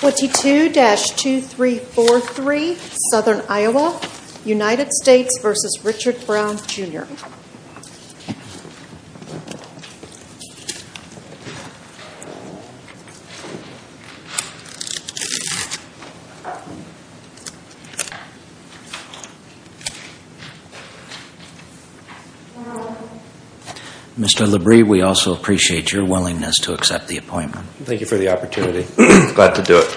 22-2343, Southern Iowa, United States v. Richard Brown, Jr. Mr. LaBrie, we also appreciate your willingness to accept the appointment. Thank you for the opportunity. Glad to do it.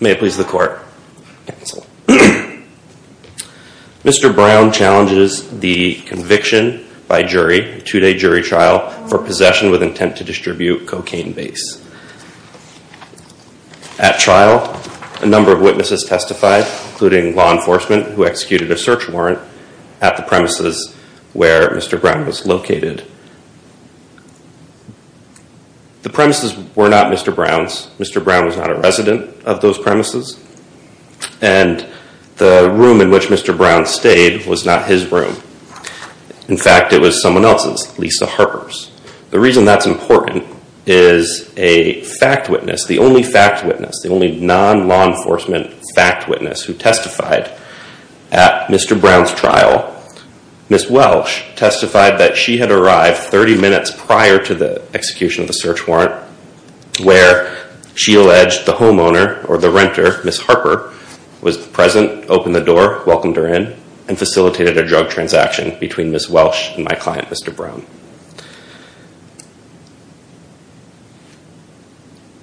May it please the court. Mr. Brown challenges the conviction by jury, two-day jury trial, for possession with intent to distribute cocaine base. At trial, a number of witnesses testified, including law enforcement, who executed a search warrant at the premises where Mr. Brown was located. The premises were not Mr. Brown's. Mr. Brown was not a resident of those premises. And the room in which Mr. Brown stayed was not his room. In fact, it was someone else's, Lisa Harper's. The reason that's important is a fact witness, the only fact witness, the only non-law enforcement fact witness who testified at Mr. Brown's trial, Ms. Welsh, testified that she had arrived 30 minutes prior to the execution of the search warrant where she alleged the homeowner or the renter, Ms. Harper, was present, opened the door, welcomed her in, and facilitated a drug transaction between Ms. Welsh and my client, Mr. Brown.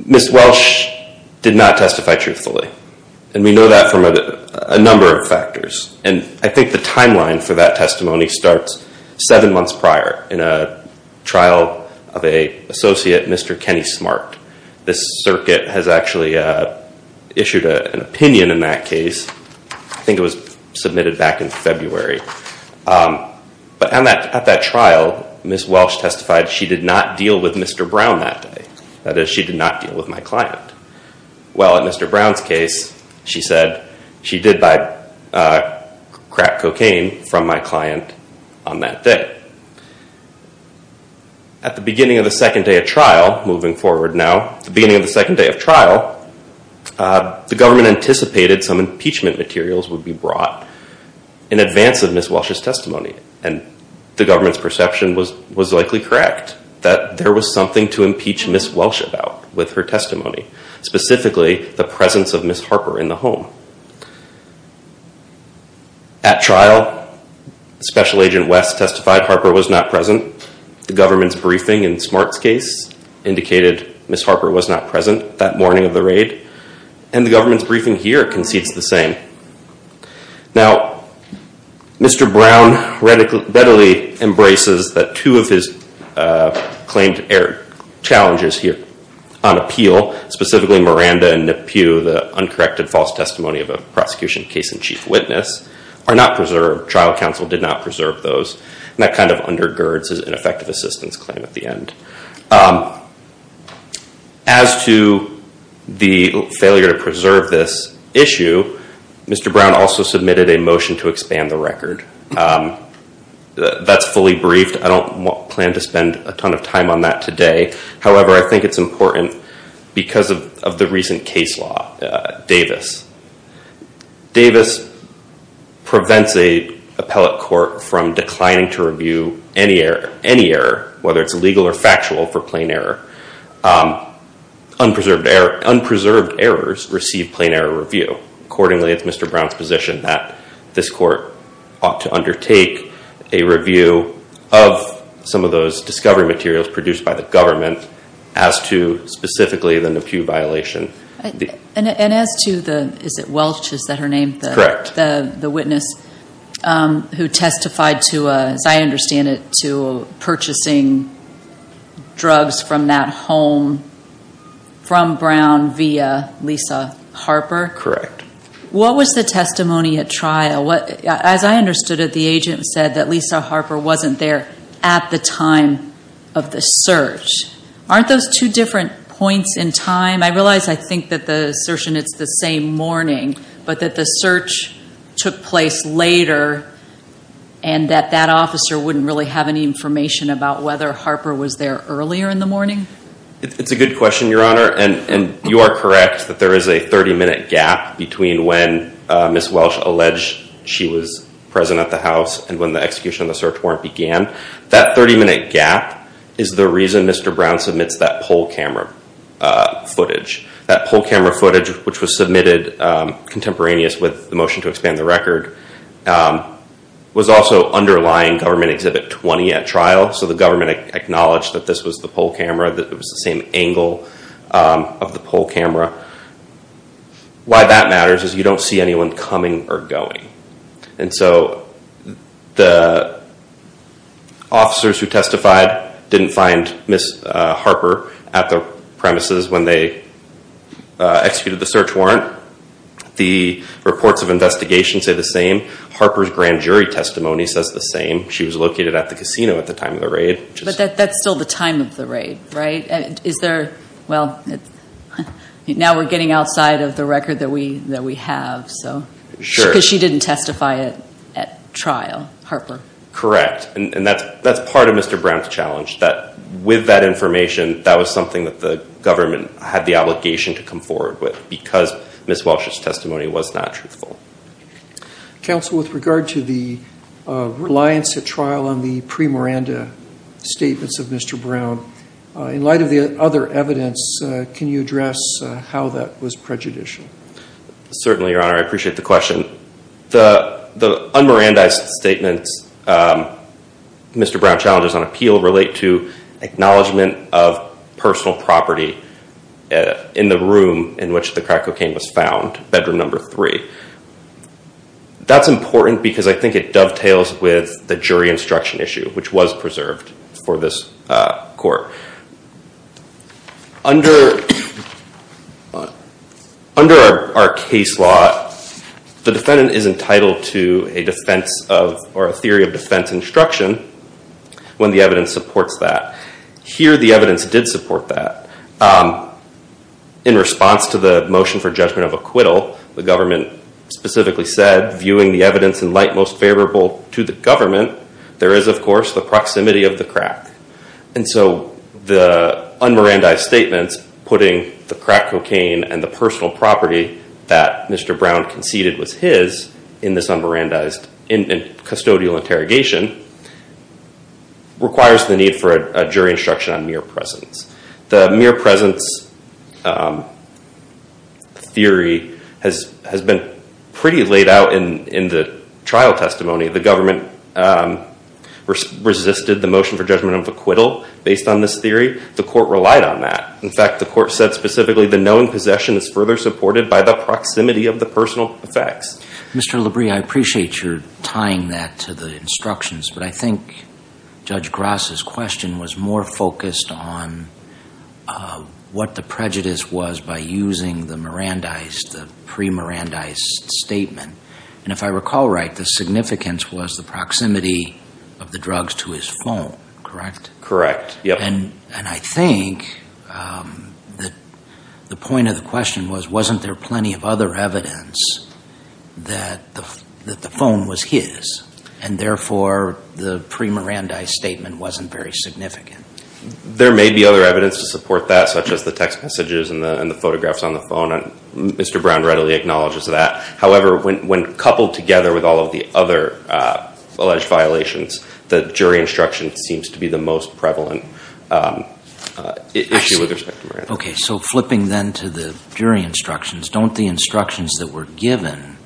Ms. Welsh did not testify truthfully. And we know that from a number of factors. And I think the timeline for that testimony starts seven months prior in a trial of an associate, Mr. Kenny Smart. This circuit has actually issued an opinion in that case. I think it was submitted back in February. But at that trial, Ms. Welsh testified she did not deal with Mr. Brown that day. That is, she did not deal with my client. Well, in Mr. Brown's case, she said she did buy crack cocaine from my client on that day. At the beginning of the second day of trial, moving forward now, the beginning of the second day of trial, the government anticipated some impeachment materials would be brought in advance of Ms. Welsh's testimony. And the government's perception was likely correct, that there was something to impeach Ms. Welsh about with her testimony, specifically the presence of Ms. Harper in the home. At trial, Special Agent West testified Harper was not present. The government's briefing in Smart's case indicated Ms. Harper was not present that morning of the raid. And the government's briefing here concedes the same. Now, Mr. Brown readily embraces that two of his claimed air challenges here on appeal, specifically Miranda and Nip Pugh, the uncorrected false testimony of a prosecution case in chief witness, are not preserved. Her trial counsel did not preserve those. And that kind of undergirds his ineffective assistance claim at the end. As to the failure to preserve this issue, Mr. Brown also submitted a motion to expand the record. That's fully briefed. I don't plan to spend a ton of time on that today. However, I think it's important because of the recent case law, Davis. Davis prevents an appellate court from declining to review any error, whether it's legal or factual, for plain error. Unpreserved errors receive plain error review. Accordingly, it's Mr. Brown's position that this court ought to undertake a review of some of those discovery materials produced by the government as to specifically the Nip Pugh violation. And as to the, is it Welch, is that her name? Correct. The witness who testified to, as I understand it, to purchasing drugs from that home from Brown via Lisa Harper? Correct. What was the testimony at trial? As I understood it, the agent said that Lisa Harper wasn't there at the time of the search. Aren't those two different points in time? I realize I think that the assertion it's the same morning, but that the search took place later and that that officer wouldn't really have any information about whether Harper was there earlier in the morning? It's a good question, Your Honor. And you are correct that there is a 30-minute gap between when Ms. Welch alleged she was present at the house and when the execution of the search warrant began. That 30-minute gap is the reason Mr. Brown submits that poll camera footage. That poll camera footage, which was submitted contemporaneous with the motion to expand the record, was also underlying Government Exhibit 20 at trial. So the government acknowledged that this was the poll camera, that it was the same angle of the poll camera. Why that matters is you don't see anyone coming or going. And so the officers who testified didn't find Ms. Harper at the premises when they executed the search warrant. The reports of investigation say the same. Harper's grand jury testimony says the same. She was located at the casino at the time of the raid. But that's still the time of the raid, right? Is there, well, now we're getting outside of the record that we have. Sure. Because she didn't testify at trial, Harper. Correct. And that's part of Mr. Brown's challenge, that with that information, that was something that the government had the obligation to come forward with because Ms. Welch's testimony was not truthful. Counsel, with regard to the reliance at trial on the pre-Miranda statements of Mr. Brown, in light of the other evidence, can you address how that was prejudicial? Certainly, Your Honor. I appreciate the question. The un-Miranda statements Mr. Brown challenges on appeal relate to acknowledgement of personal property in the room in which the crack cocaine was found, bedroom number three. That's important because I think it dovetails with the jury instruction issue, which was preserved for this court. Under our case law, the defendant is entitled to a defense or a theory of defense instruction when the evidence supports that. Here, the evidence did support that. In response to the motion for judgment of acquittal, the government specifically said, viewing the evidence in light most favorable to the government, there is, of course, the proximity of the crack. The un-Miranda statements, putting the crack cocaine and the personal property that Mr. Brown conceded was his in this un-Miranda custodial interrogation, requires the need for a jury instruction on mere presence. The mere presence theory has been pretty laid out in the trial testimony. The government resisted the motion for judgment of acquittal based on this theory. The court relied on that. In fact, the court said specifically the known possession is further supported by the proximity of the personal effects. Mr. Labrie, I appreciate your tying that to the instructions, but I think Judge Grass' question was more focused on what the prejudice was by using the Mirandized, the pre-Mirandized statement. And if I recall right, the significance was the proximity of the drugs to his phone, correct? Correct. And I think the point of the question was, wasn't there plenty of other evidence that the phone was his, and therefore the pre-Mirandized statement wasn't very significant? There may be other evidence to support that, such as the text messages and the photographs on the phone. Mr. Brown readily acknowledges that. However, when coupled together with all of the other alleged violations, the jury instruction seems to be the most prevalent issue with respect to Miranda. Okay. So flipping then to the jury instructions, don't the instructions that were given,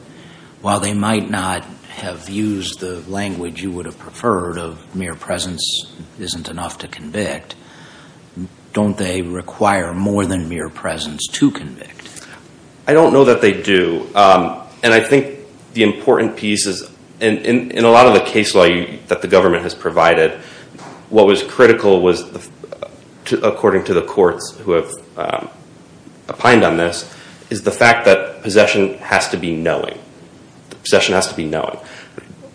while they might not have used the language you would have preferred of mere presence isn't enough to convict, don't they require more than mere presence to convict? I don't know that they do. And I think the important piece is, in a lot of the case law that the government has provided, what was critical was, according to the courts who have opined on this, is the fact that possession has to be knowing. Possession has to be knowing.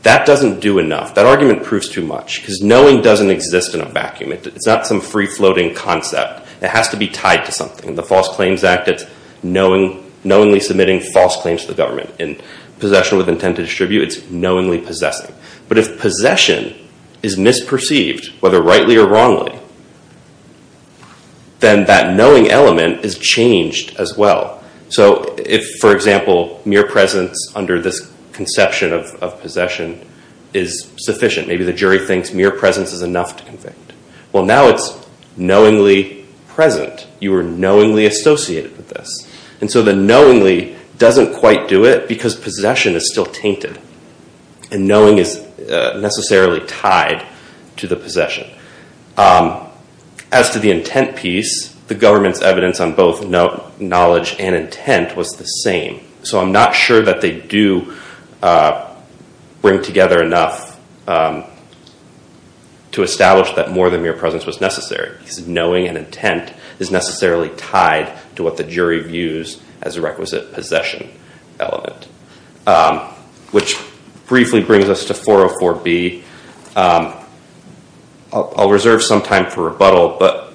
That doesn't do enough. That argument proves too much, because knowing doesn't exist in a vacuum. It's not some free-floating concept. It has to be tied to something. In the False Claims Act, it's knowingly submitting false claims to the government. In possession with intent to distribute, it's knowingly possessing. But if possession is misperceived, whether rightly or wrongly, then that knowing element is changed as well. So if, for example, mere presence under this conception of possession is sufficient, maybe the jury thinks mere presence is enough to convict. Well, now it's knowingly present. You are knowingly associated with this. And so the knowingly doesn't quite do it, because possession is still tainted, and knowing is necessarily tied to the possession. As to the intent piece, the government's evidence on both knowledge and intent was the same. So I'm not sure that they do bring together enough to establish that more than mere presence was necessary, because knowing and intent is necessarily tied to what the jury views as a requisite possession element. Which briefly brings us to 404B. I'll reserve some time for rebuttal, but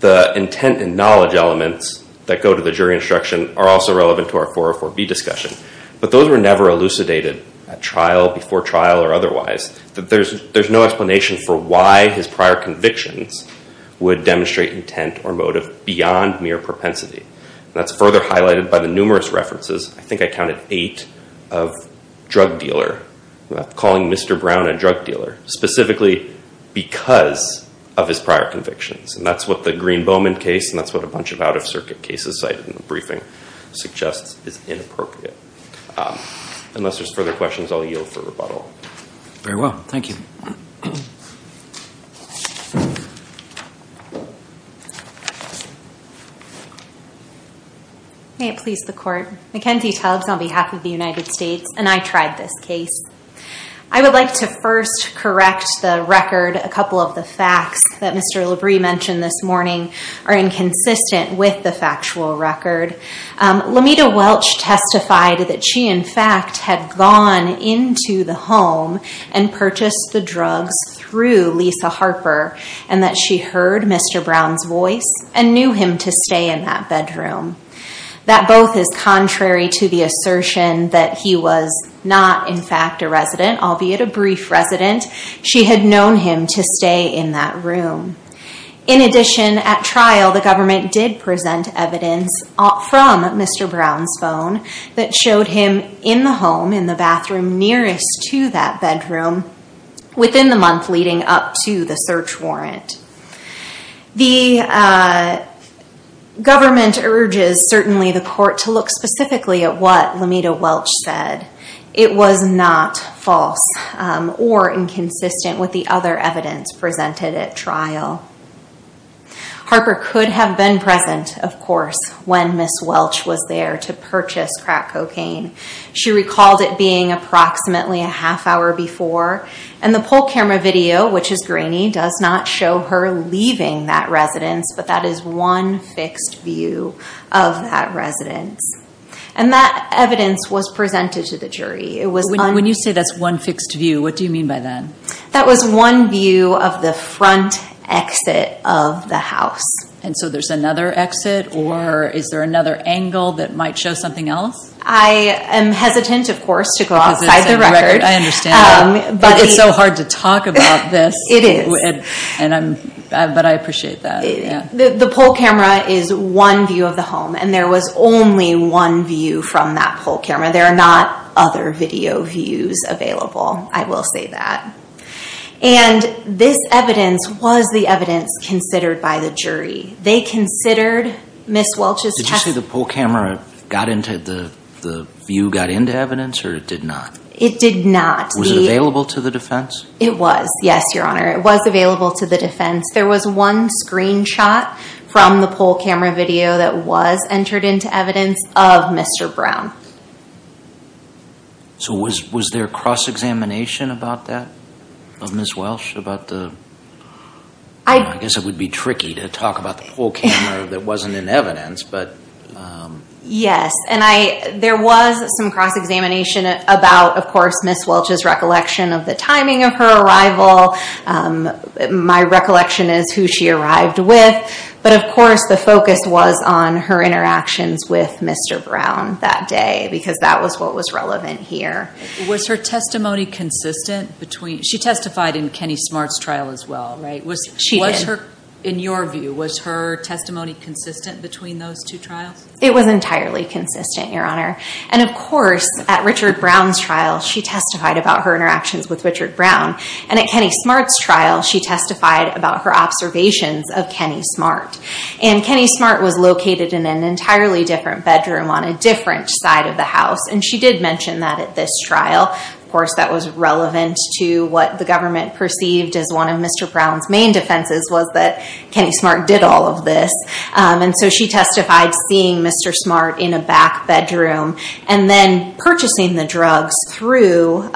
the intent and knowledge elements that go to the jury instruction are also relevant to our 404B discussion. But those were never elucidated at trial, before trial, or otherwise. There's no explanation for why his prior convictions would demonstrate intent or motive beyond mere propensity. That's further highlighted by the numerous references. I think I counted eight of drug dealer, calling Mr. Brown a drug dealer, specifically because of his prior convictions. And that's what the Green-Bowman case, and that's what a bunch of out-of-circuit cases cited in the briefing suggests is inappropriate. Unless there's further questions, I'll yield for rebuttal. Very well. Thank you. May it please the Court. Mackenzie Tubbs on behalf of the United States, and I tried this case. I would like to first correct the record. A couple of the facts that Mr. Labrie mentioned this morning are inconsistent with the factual record. Lamita Welch testified that she, in fact, had gone into the home and purchased the drugs through Lisa Harper, and that she heard Mr. Brown's voice and knew him to stay in that bedroom. That both is contrary to the assertion that he was not, in fact, a resident, albeit a brief resident. She had known him to stay in that room. In addition, at trial, the government did present evidence from Mr. Brown's phone that showed him in the home, in the bathroom nearest to that bedroom, within the month leading up to the search warrant. The government urges, certainly, the Court to look specifically at what Lamita Welch said. It was not false or inconsistent with the other evidence presented at trial. Harper could have been present, of course, when Ms. Welch was there to purchase crack cocaine. She recalled it being approximately a half hour before, and the poll camera video, which is grainy, does not show her leaving that residence, but that is one fixed view of that residence. And that evidence was presented to the jury. When you say that's one fixed view, what do you mean by that? That was one view of the front exit of the house. And so there's another exit, or is there another angle that might show something else? I am hesitant, of course, to go outside the record. I understand that. But it's so hard to talk about this. It is. But I appreciate that. The poll camera is one view of the home, and there was only one view from that poll camera. There are not other video views available. I will say that. And this evidence was the evidence considered by the jury. They considered Ms. Welch's testimony. Did you say the poll camera got into the view, got into evidence, or it did not? It did not. Was it available to the defense? It was, yes, Your Honor. It was available to the defense. There was one screenshot from the poll camera video that was entered into evidence of Mr. Brown. So was there cross-examination about that, of Ms. Welch? I guess it would be tricky to talk about the poll camera that wasn't in evidence. Yes. And there was some cross-examination about, of course, Ms. Welch's recollection of the timing of her arrival. My recollection is who she arrived with. But, of course, the focus was on her interactions with Mr. Brown that day because that was what was relevant here. Was her testimony consistent between—she testified in Kenny Smart's trial as well, right? She did. In your view, was her testimony consistent between those two trials? It was entirely consistent, Your Honor. And, of course, at Richard Brown's trial, she testified about her interactions with Richard Brown. And at Kenny Smart's trial, she testified about her observations of Kenny Smart. And Kenny Smart was located in an entirely different bedroom on a different side of the house. And she did mention that at this trial. Of course, that was relevant to what the government perceived as one of Mr. Brown's main defenses was that Kenny Smart did all of this. And so she testified seeing Mr. Smart in a back bedroom and then purchasing the drugs through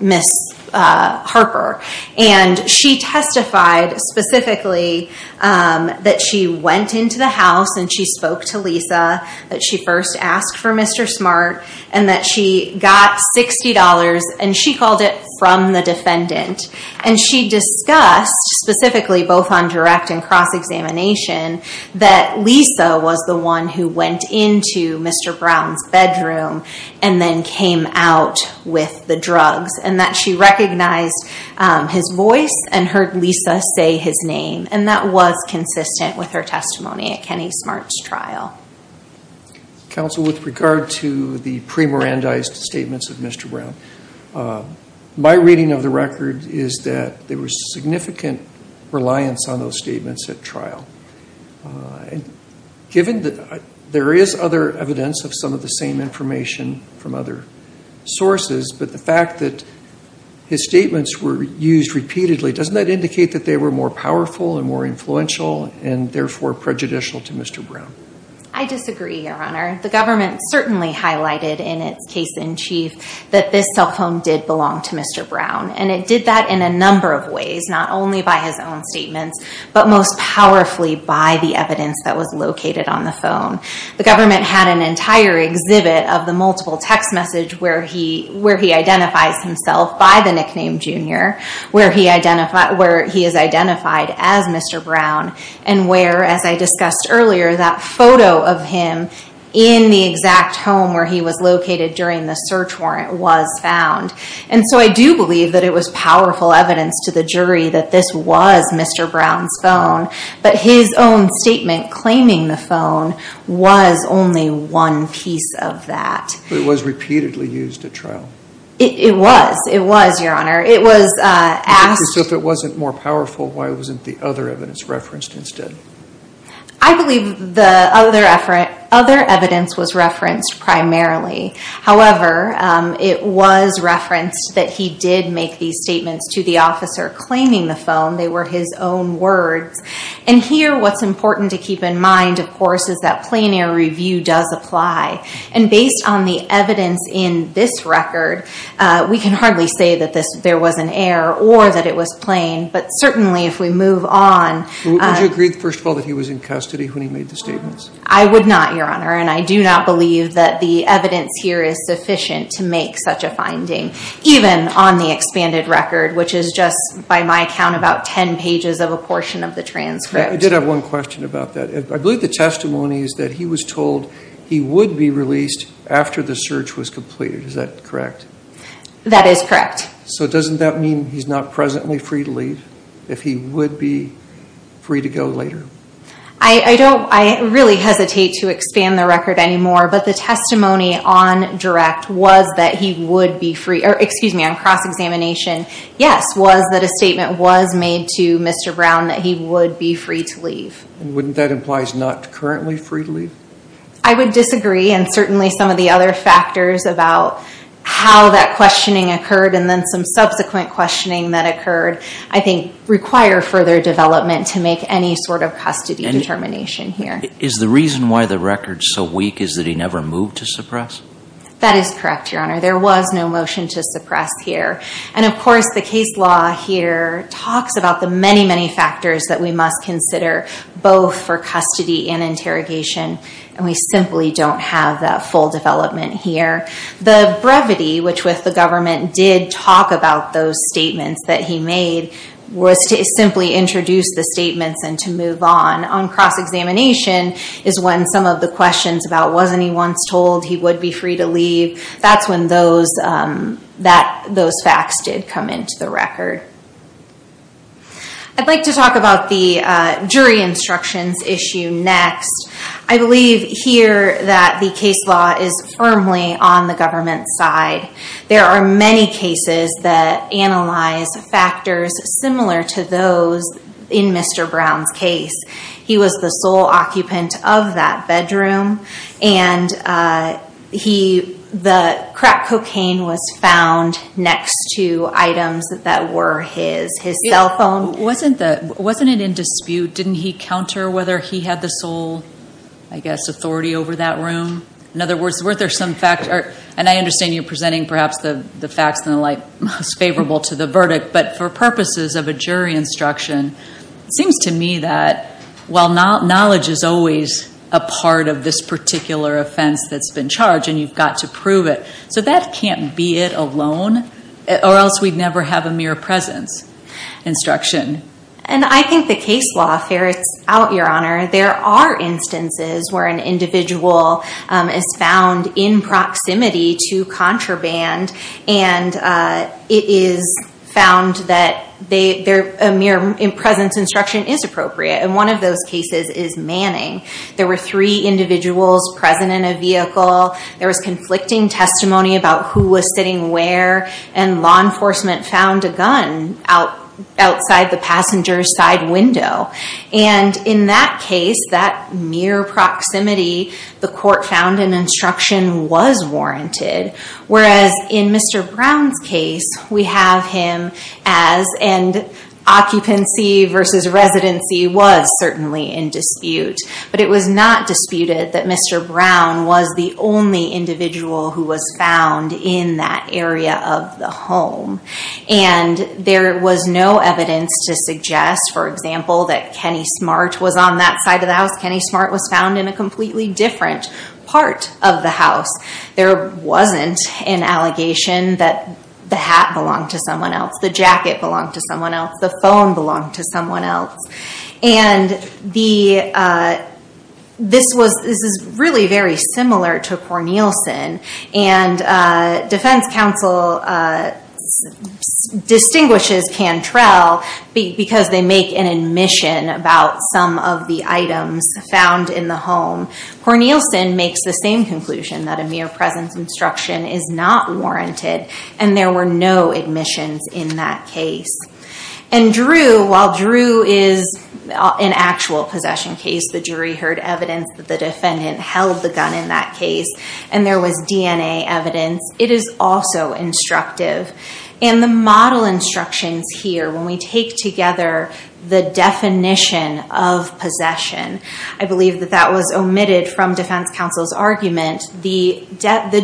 Ms. Harper. And she testified specifically that she went into the house and she spoke to Lisa, that she first asked for Mr. Smart, and that she got $60, and she called it from the defendant. And she discussed, specifically both on direct and cross-examination, that Lisa was the one who went into Mr. Brown's bedroom and then came out with the drugs, and that she recognized his voice and heard Lisa say his name. And that was consistent with her testimony at Kenny Smart's trial. Counsel, with regard to the pre-Mirandized statements of Mr. Brown, my reading of the record is that there was significant reliance on those statements at trial. Given that there is other evidence of some of the same information from other sources, but the fact that his statements were used repeatedly, doesn't that indicate that they were more powerful and more influential and therefore prejudicial to Mr. Brown? I disagree, Your Honor. The government certainly highlighted in its case in chief that this cell phone did belong to Mr. Brown. And it did that in a number of ways, not only by his own statements, but most powerfully by the evidence that was located on the phone. The government had an entire exhibit of the multiple text message where he identifies himself by the nickname Junior, where he is identified as Mr. Brown, and where, as I discussed earlier, that photo of him in the exact home where he was located during the search warrant was found. And so I do believe that it was powerful evidence to the jury that this was Mr. Brown's phone, but his own statement claiming the phone was only one piece of that. It was repeatedly used at trial? It was, it was, Your Honor. So if it wasn't more powerful, why wasn't the other evidence referenced instead? I believe the other evidence was referenced primarily. However, it was referenced that he did make these statements to the officer claiming the phone. They were his own words. And here, what's important to keep in mind, of course, is that plenary review does apply. And based on the evidence in this record, we can hardly say that there was an error or that it was plain, but certainly if we move on. Would you agree, first of all, that he was in custody when he made the statements? I would not, Your Honor, and I do not believe that the evidence here is sufficient to make such a finding, even on the expanded record, which is just, by my count, about 10 pages of a portion of the transcript. I did have one question about that. I believe the testimony is that he was told he would be released after the search was completed. Is that correct? That is correct. So doesn't that mean he's not presently free to leave, if he would be free to go later? I don't, I really hesitate to expand the record anymore, but the testimony on direct was that he would be free, or excuse me, on cross-examination, yes, was that a statement was made to Mr. Brown that he would be free to leave. Wouldn't that imply he's not currently free to leave? I would disagree, and certainly some of the other factors about how that questioning occurred and then some subsequent questioning that occurred, I think, require further development to make any sort of custody determination here. Is the reason why the record's so weak is that he never moved to suppress? That is correct, Your Honor. There was no motion to suppress here. And, of course, the case law here talks about the many, many factors that we must consider, both for custody and interrogation, and we simply don't have that full development here. The brevity, which with the government did talk about those statements that he made, was to simply introduce the statements and to move on. On cross-examination is when some of the questions about wasn't he once told he would be free to leave, that's when those facts did come into the record. I'd like to talk about the jury instructions issue next. I believe here that the case law is firmly on the government's side. There are many cases that analyze factors similar to those in Mr. Brown's case. He was the sole occupant of that bedroom, and the crack cocaine was found next to items that were his, his cell phone. Wasn't it in dispute? Didn't he counter whether he had the sole, I guess, authority over that room? In other words, were there some factors? And I understand you're presenting perhaps the facts and the like most favorable to the verdict, but for purposes of a jury instruction, it seems to me that, while knowledge is always a part of this particular offense that's been charged, and you've got to prove it, so that can't be it alone, or else we'd never have a mere presence instruction. And I think the case law ferrets out, Your Honor. There are instances where an individual is found in proximity to contraband, and it is found that a mere presence instruction is appropriate. And one of those cases is Manning. There were three individuals present in a vehicle. There was conflicting testimony about who was sitting where, and law enforcement found a gun outside the passenger's side window. And in that case, that mere proximity, the court found an instruction was warranted, whereas in Mr. Brown's case, we have him as an occupancy versus residency was certainly in dispute. But it was not disputed that Mr. Brown was the only individual who was found in that area of the home. And there was no evidence to suggest, for example, that Kenny Smart was on that side of the house. Kenny Smart was found in a completely different part of the house. There wasn't an allegation that the hat belonged to someone else, the jacket belonged to someone else, the phone belonged to someone else. And this is really very similar to Cornelison. And defense counsel distinguishes Cantrell because they make an admission about some of the items found in the home. Cornelison makes the same conclusion that a mere presence instruction is not warranted, and there were no admissions in that case. And Drew, while Drew is an actual possession case, the jury heard evidence that the defendant held the gun in that case, and there was DNA evidence, it is also instructive. And the model instructions here, when we take together the definition of possession, I believe that that was omitted from defense counsel's argument. The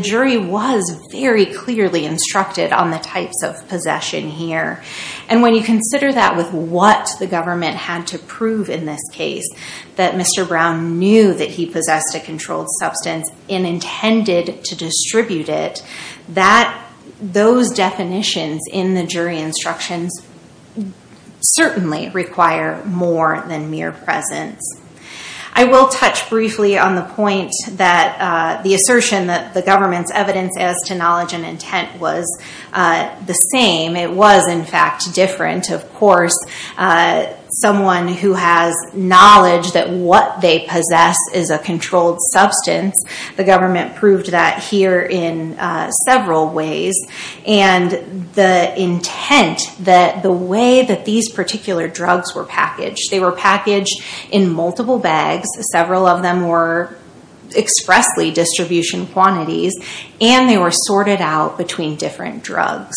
jury was very clearly instructed on the types of possession here. And when you consider that with what the government had to prove in this case, that Mr. Brown knew that he possessed a controlled substance and intended to distribute it, those definitions in the jury instructions certainly require more than mere presence. I will touch briefly on the point that the assertion that the government's evidence as to knowledge and intent was the same. It was, in fact, different. Of course, someone who has knowledge that what they possess is a controlled substance, the government proved that here in several ways. And the intent that the way that these particular drugs were packaged, they were packaged in multiple bags, several of them were expressly distribution quantities, and they were sorted out between different drugs.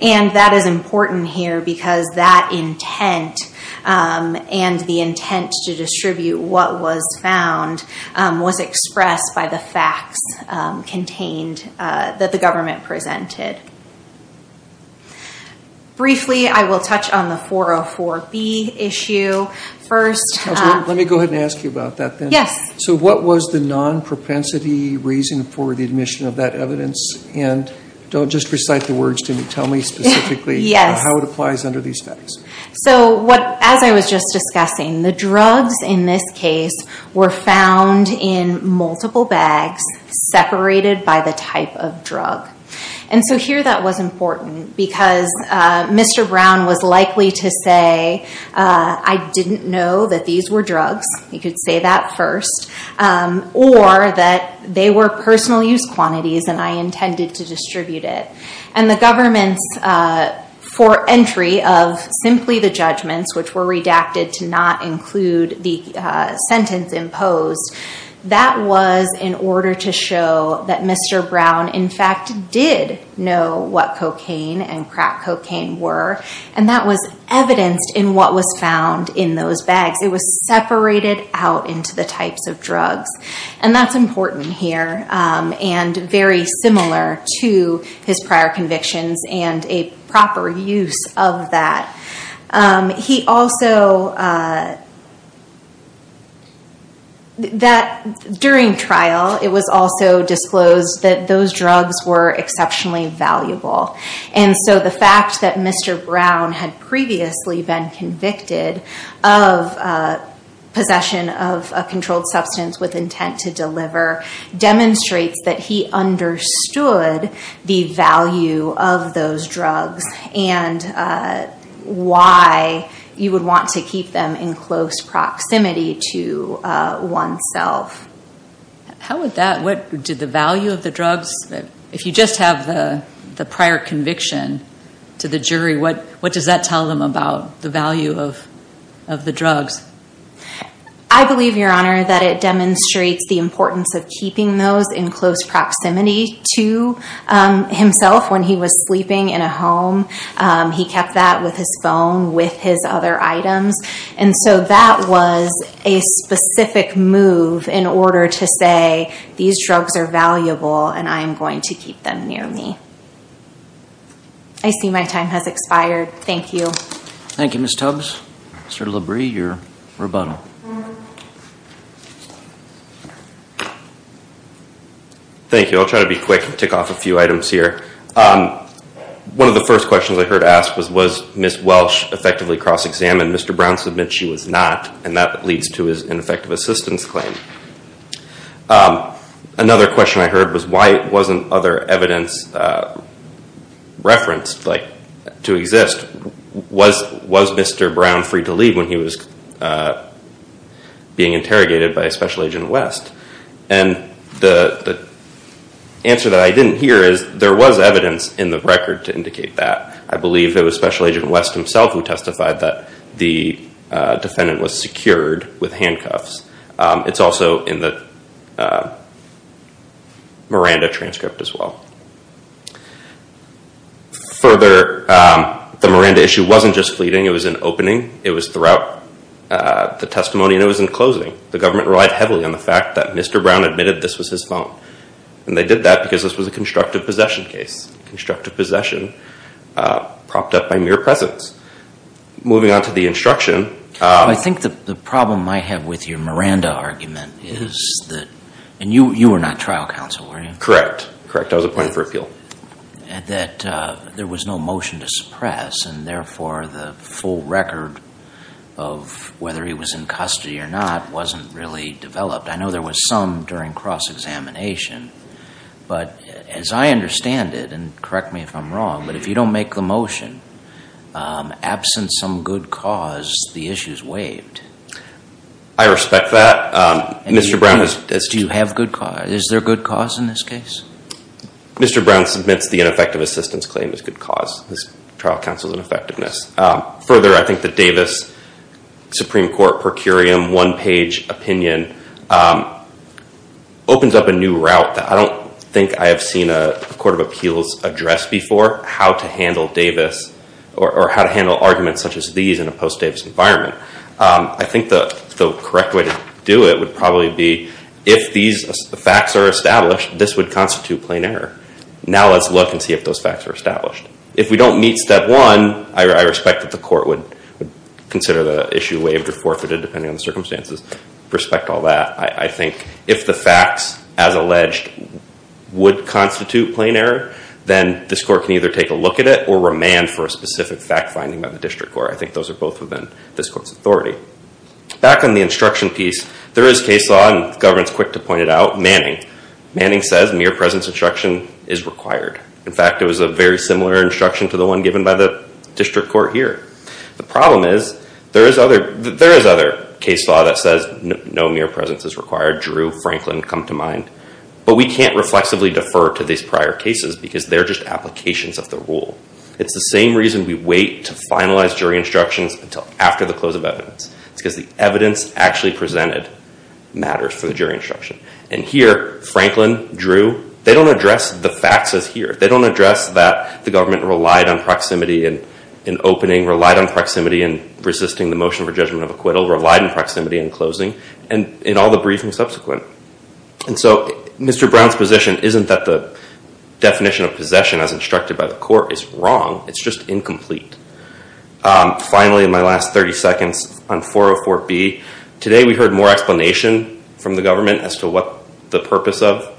And that is important here because that intent and the intent to distribute what was found was expressed by the facts contained that the government presented. Briefly, I will touch on the 404B issue first. Let me go ahead and ask you about that then. Yes. So what was the non-propensity reason for the admission of that evidence? And don't just recite the words to me. Tell me specifically how it applies under these facts. So as I was just discussing, the drugs in this case were found in multiple bags separated by the type of drug. And so here that was important because Mr. Brown was likely to say, I didn't know that these were drugs. He could say that first. Or that they were personal use quantities and I intended to distribute it. And the government's fore-entry of simply the judgments, which were redacted to not include the sentence imposed, that was in order to show that Mr. Brown in fact did know what cocaine and crack cocaine were, and that was evidenced in what was found in those bags. And that's important here and very similar to his prior convictions and a proper use of that. He also, during trial, it was also disclosed that those drugs were exceptionally valuable. And so the fact that Mr. Brown had previously been convicted of possession of a controlled substance with intent to deliver, demonstrates that he understood the value of those drugs and why you would want to keep them in close proximity to oneself. How would that, did the value of the drugs, if you just have the prior conviction to the jury, what does that tell them about the value of the drugs? I believe, Your Honor, that it demonstrates the importance of keeping those in close proximity to himself when he was sleeping in a home. He kept that with his phone, with his other items. And so that was a specific move in order to say, these drugs are valuable and I am going to keep them near me. I see my time has expired. Thank you. Thank you, Ms. Tubbs. Mr. Labrie, your rebuttal. Thank you. I'll try to be quick and tick off a few items here. One of the first questions I heard asked was, was Ms. Welsh effectively cross-examined? Mr. Brown submits she was not, and that leads to his ineffective assistance claim. Another question I heard was, why wasn't other evidence referenced to exist? Was Mr. Brown free to leave when he was being interrogated by a special agent at West? And the answer that I didn't hear is, there was evidence in the record to indicate that. I believe it was Special Agent West himself who testified that the defendant was secured with handcuffs. It's also in the Miranda transcript as well. Further, the Miranda issue wasn't just fleeting, it was an opening. It was throughout the testimony and it was in closing. The government relied heavily on the fact that Mr. Brown admitted this was his phone. And they did that because this was a constructive possession case. Constructive possession propped up by mere presence. Moving on to the instruction. I think the problem I have with your Miranda argument is that, and you were not trial counsel, were you? Correct. Correct. I was appointed for appeal. That there was no motion to suppress and therefore the full record of whether he was in custody or not wasn't really developed. I know there was some during cross-examination. But as I understand it, and correct me if I'm wrong, but if you don't make the motion, absent some good cause, the issue is waived. I respect that. Do you have good cause? Is there good cause in this case? Mr. Brown submits the ineffective assistance claim as good cause. His trial counsel is an effectiveness. Further, I think the Davis Supreme Court per curiam one-page opinion opens up a new route that I don't think I have seen a court of appeals address before, how to handle arguments such as these in a post-Davis environment. I think the correct way to do it would probably be if these facts are established, this would constitute plain error. If we don't meet step one, I respect that the court would consider the issue waived or forfeited, depending on the circumstances. I respect all that. I think if the facts, as alleged, would constitute plain error, then this court can either take a look at it or remand for a specific fact finding by the district court. I think those are both within this court's authority. Back on the instruction piece, there is case law, and the government is quick to point it out, manning. Manning says mere presence instruction is required. In fact, it was a very similar instruction to the one given by the district court here. The problem is there is other case law that says no mere presence is required. Drew, Franklin come to mind. But we can't reflexively defer to these prior cases because they're just applications of the rule. It's the same reason we wait to finalize jury instructions until after the close of evidence. It's because the evidence actually presented matters for the jury instruction. And here, Franklin, Drew, they don't address the facts as here. They don't address that the government relied on proximity in opening, relied on proximity in resisting the motion for judgment of acquittal, relied on proximity in closing, and in all the briefings subsequent. And so Mr. Brown's position isn't that the definition of possession, as instructed by the court, is wrong. It's just incomplete. Finally, in my last 30 seconds on 404B, today we heard more explanation from the government as to what the purpose of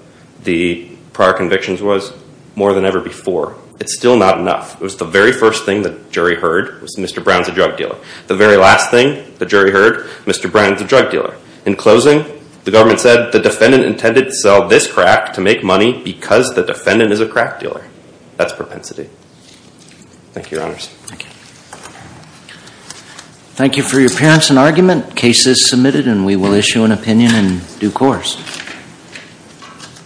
the prior convictions was more than ever before. It's still not enough. It was the very first thing the jury heard was Mr. Brown's a drug dealer. The very last thing the jury heard, Mr. Brown's a drug dealer. In closing, the government said the defendant intended to sell this crack to make money because the defendant is a crack dealer. That's propensity. Thank you, Your Honors. Thank you. Thank you for your appearance and argument. Case is submitted and we will issue an opinion in due course.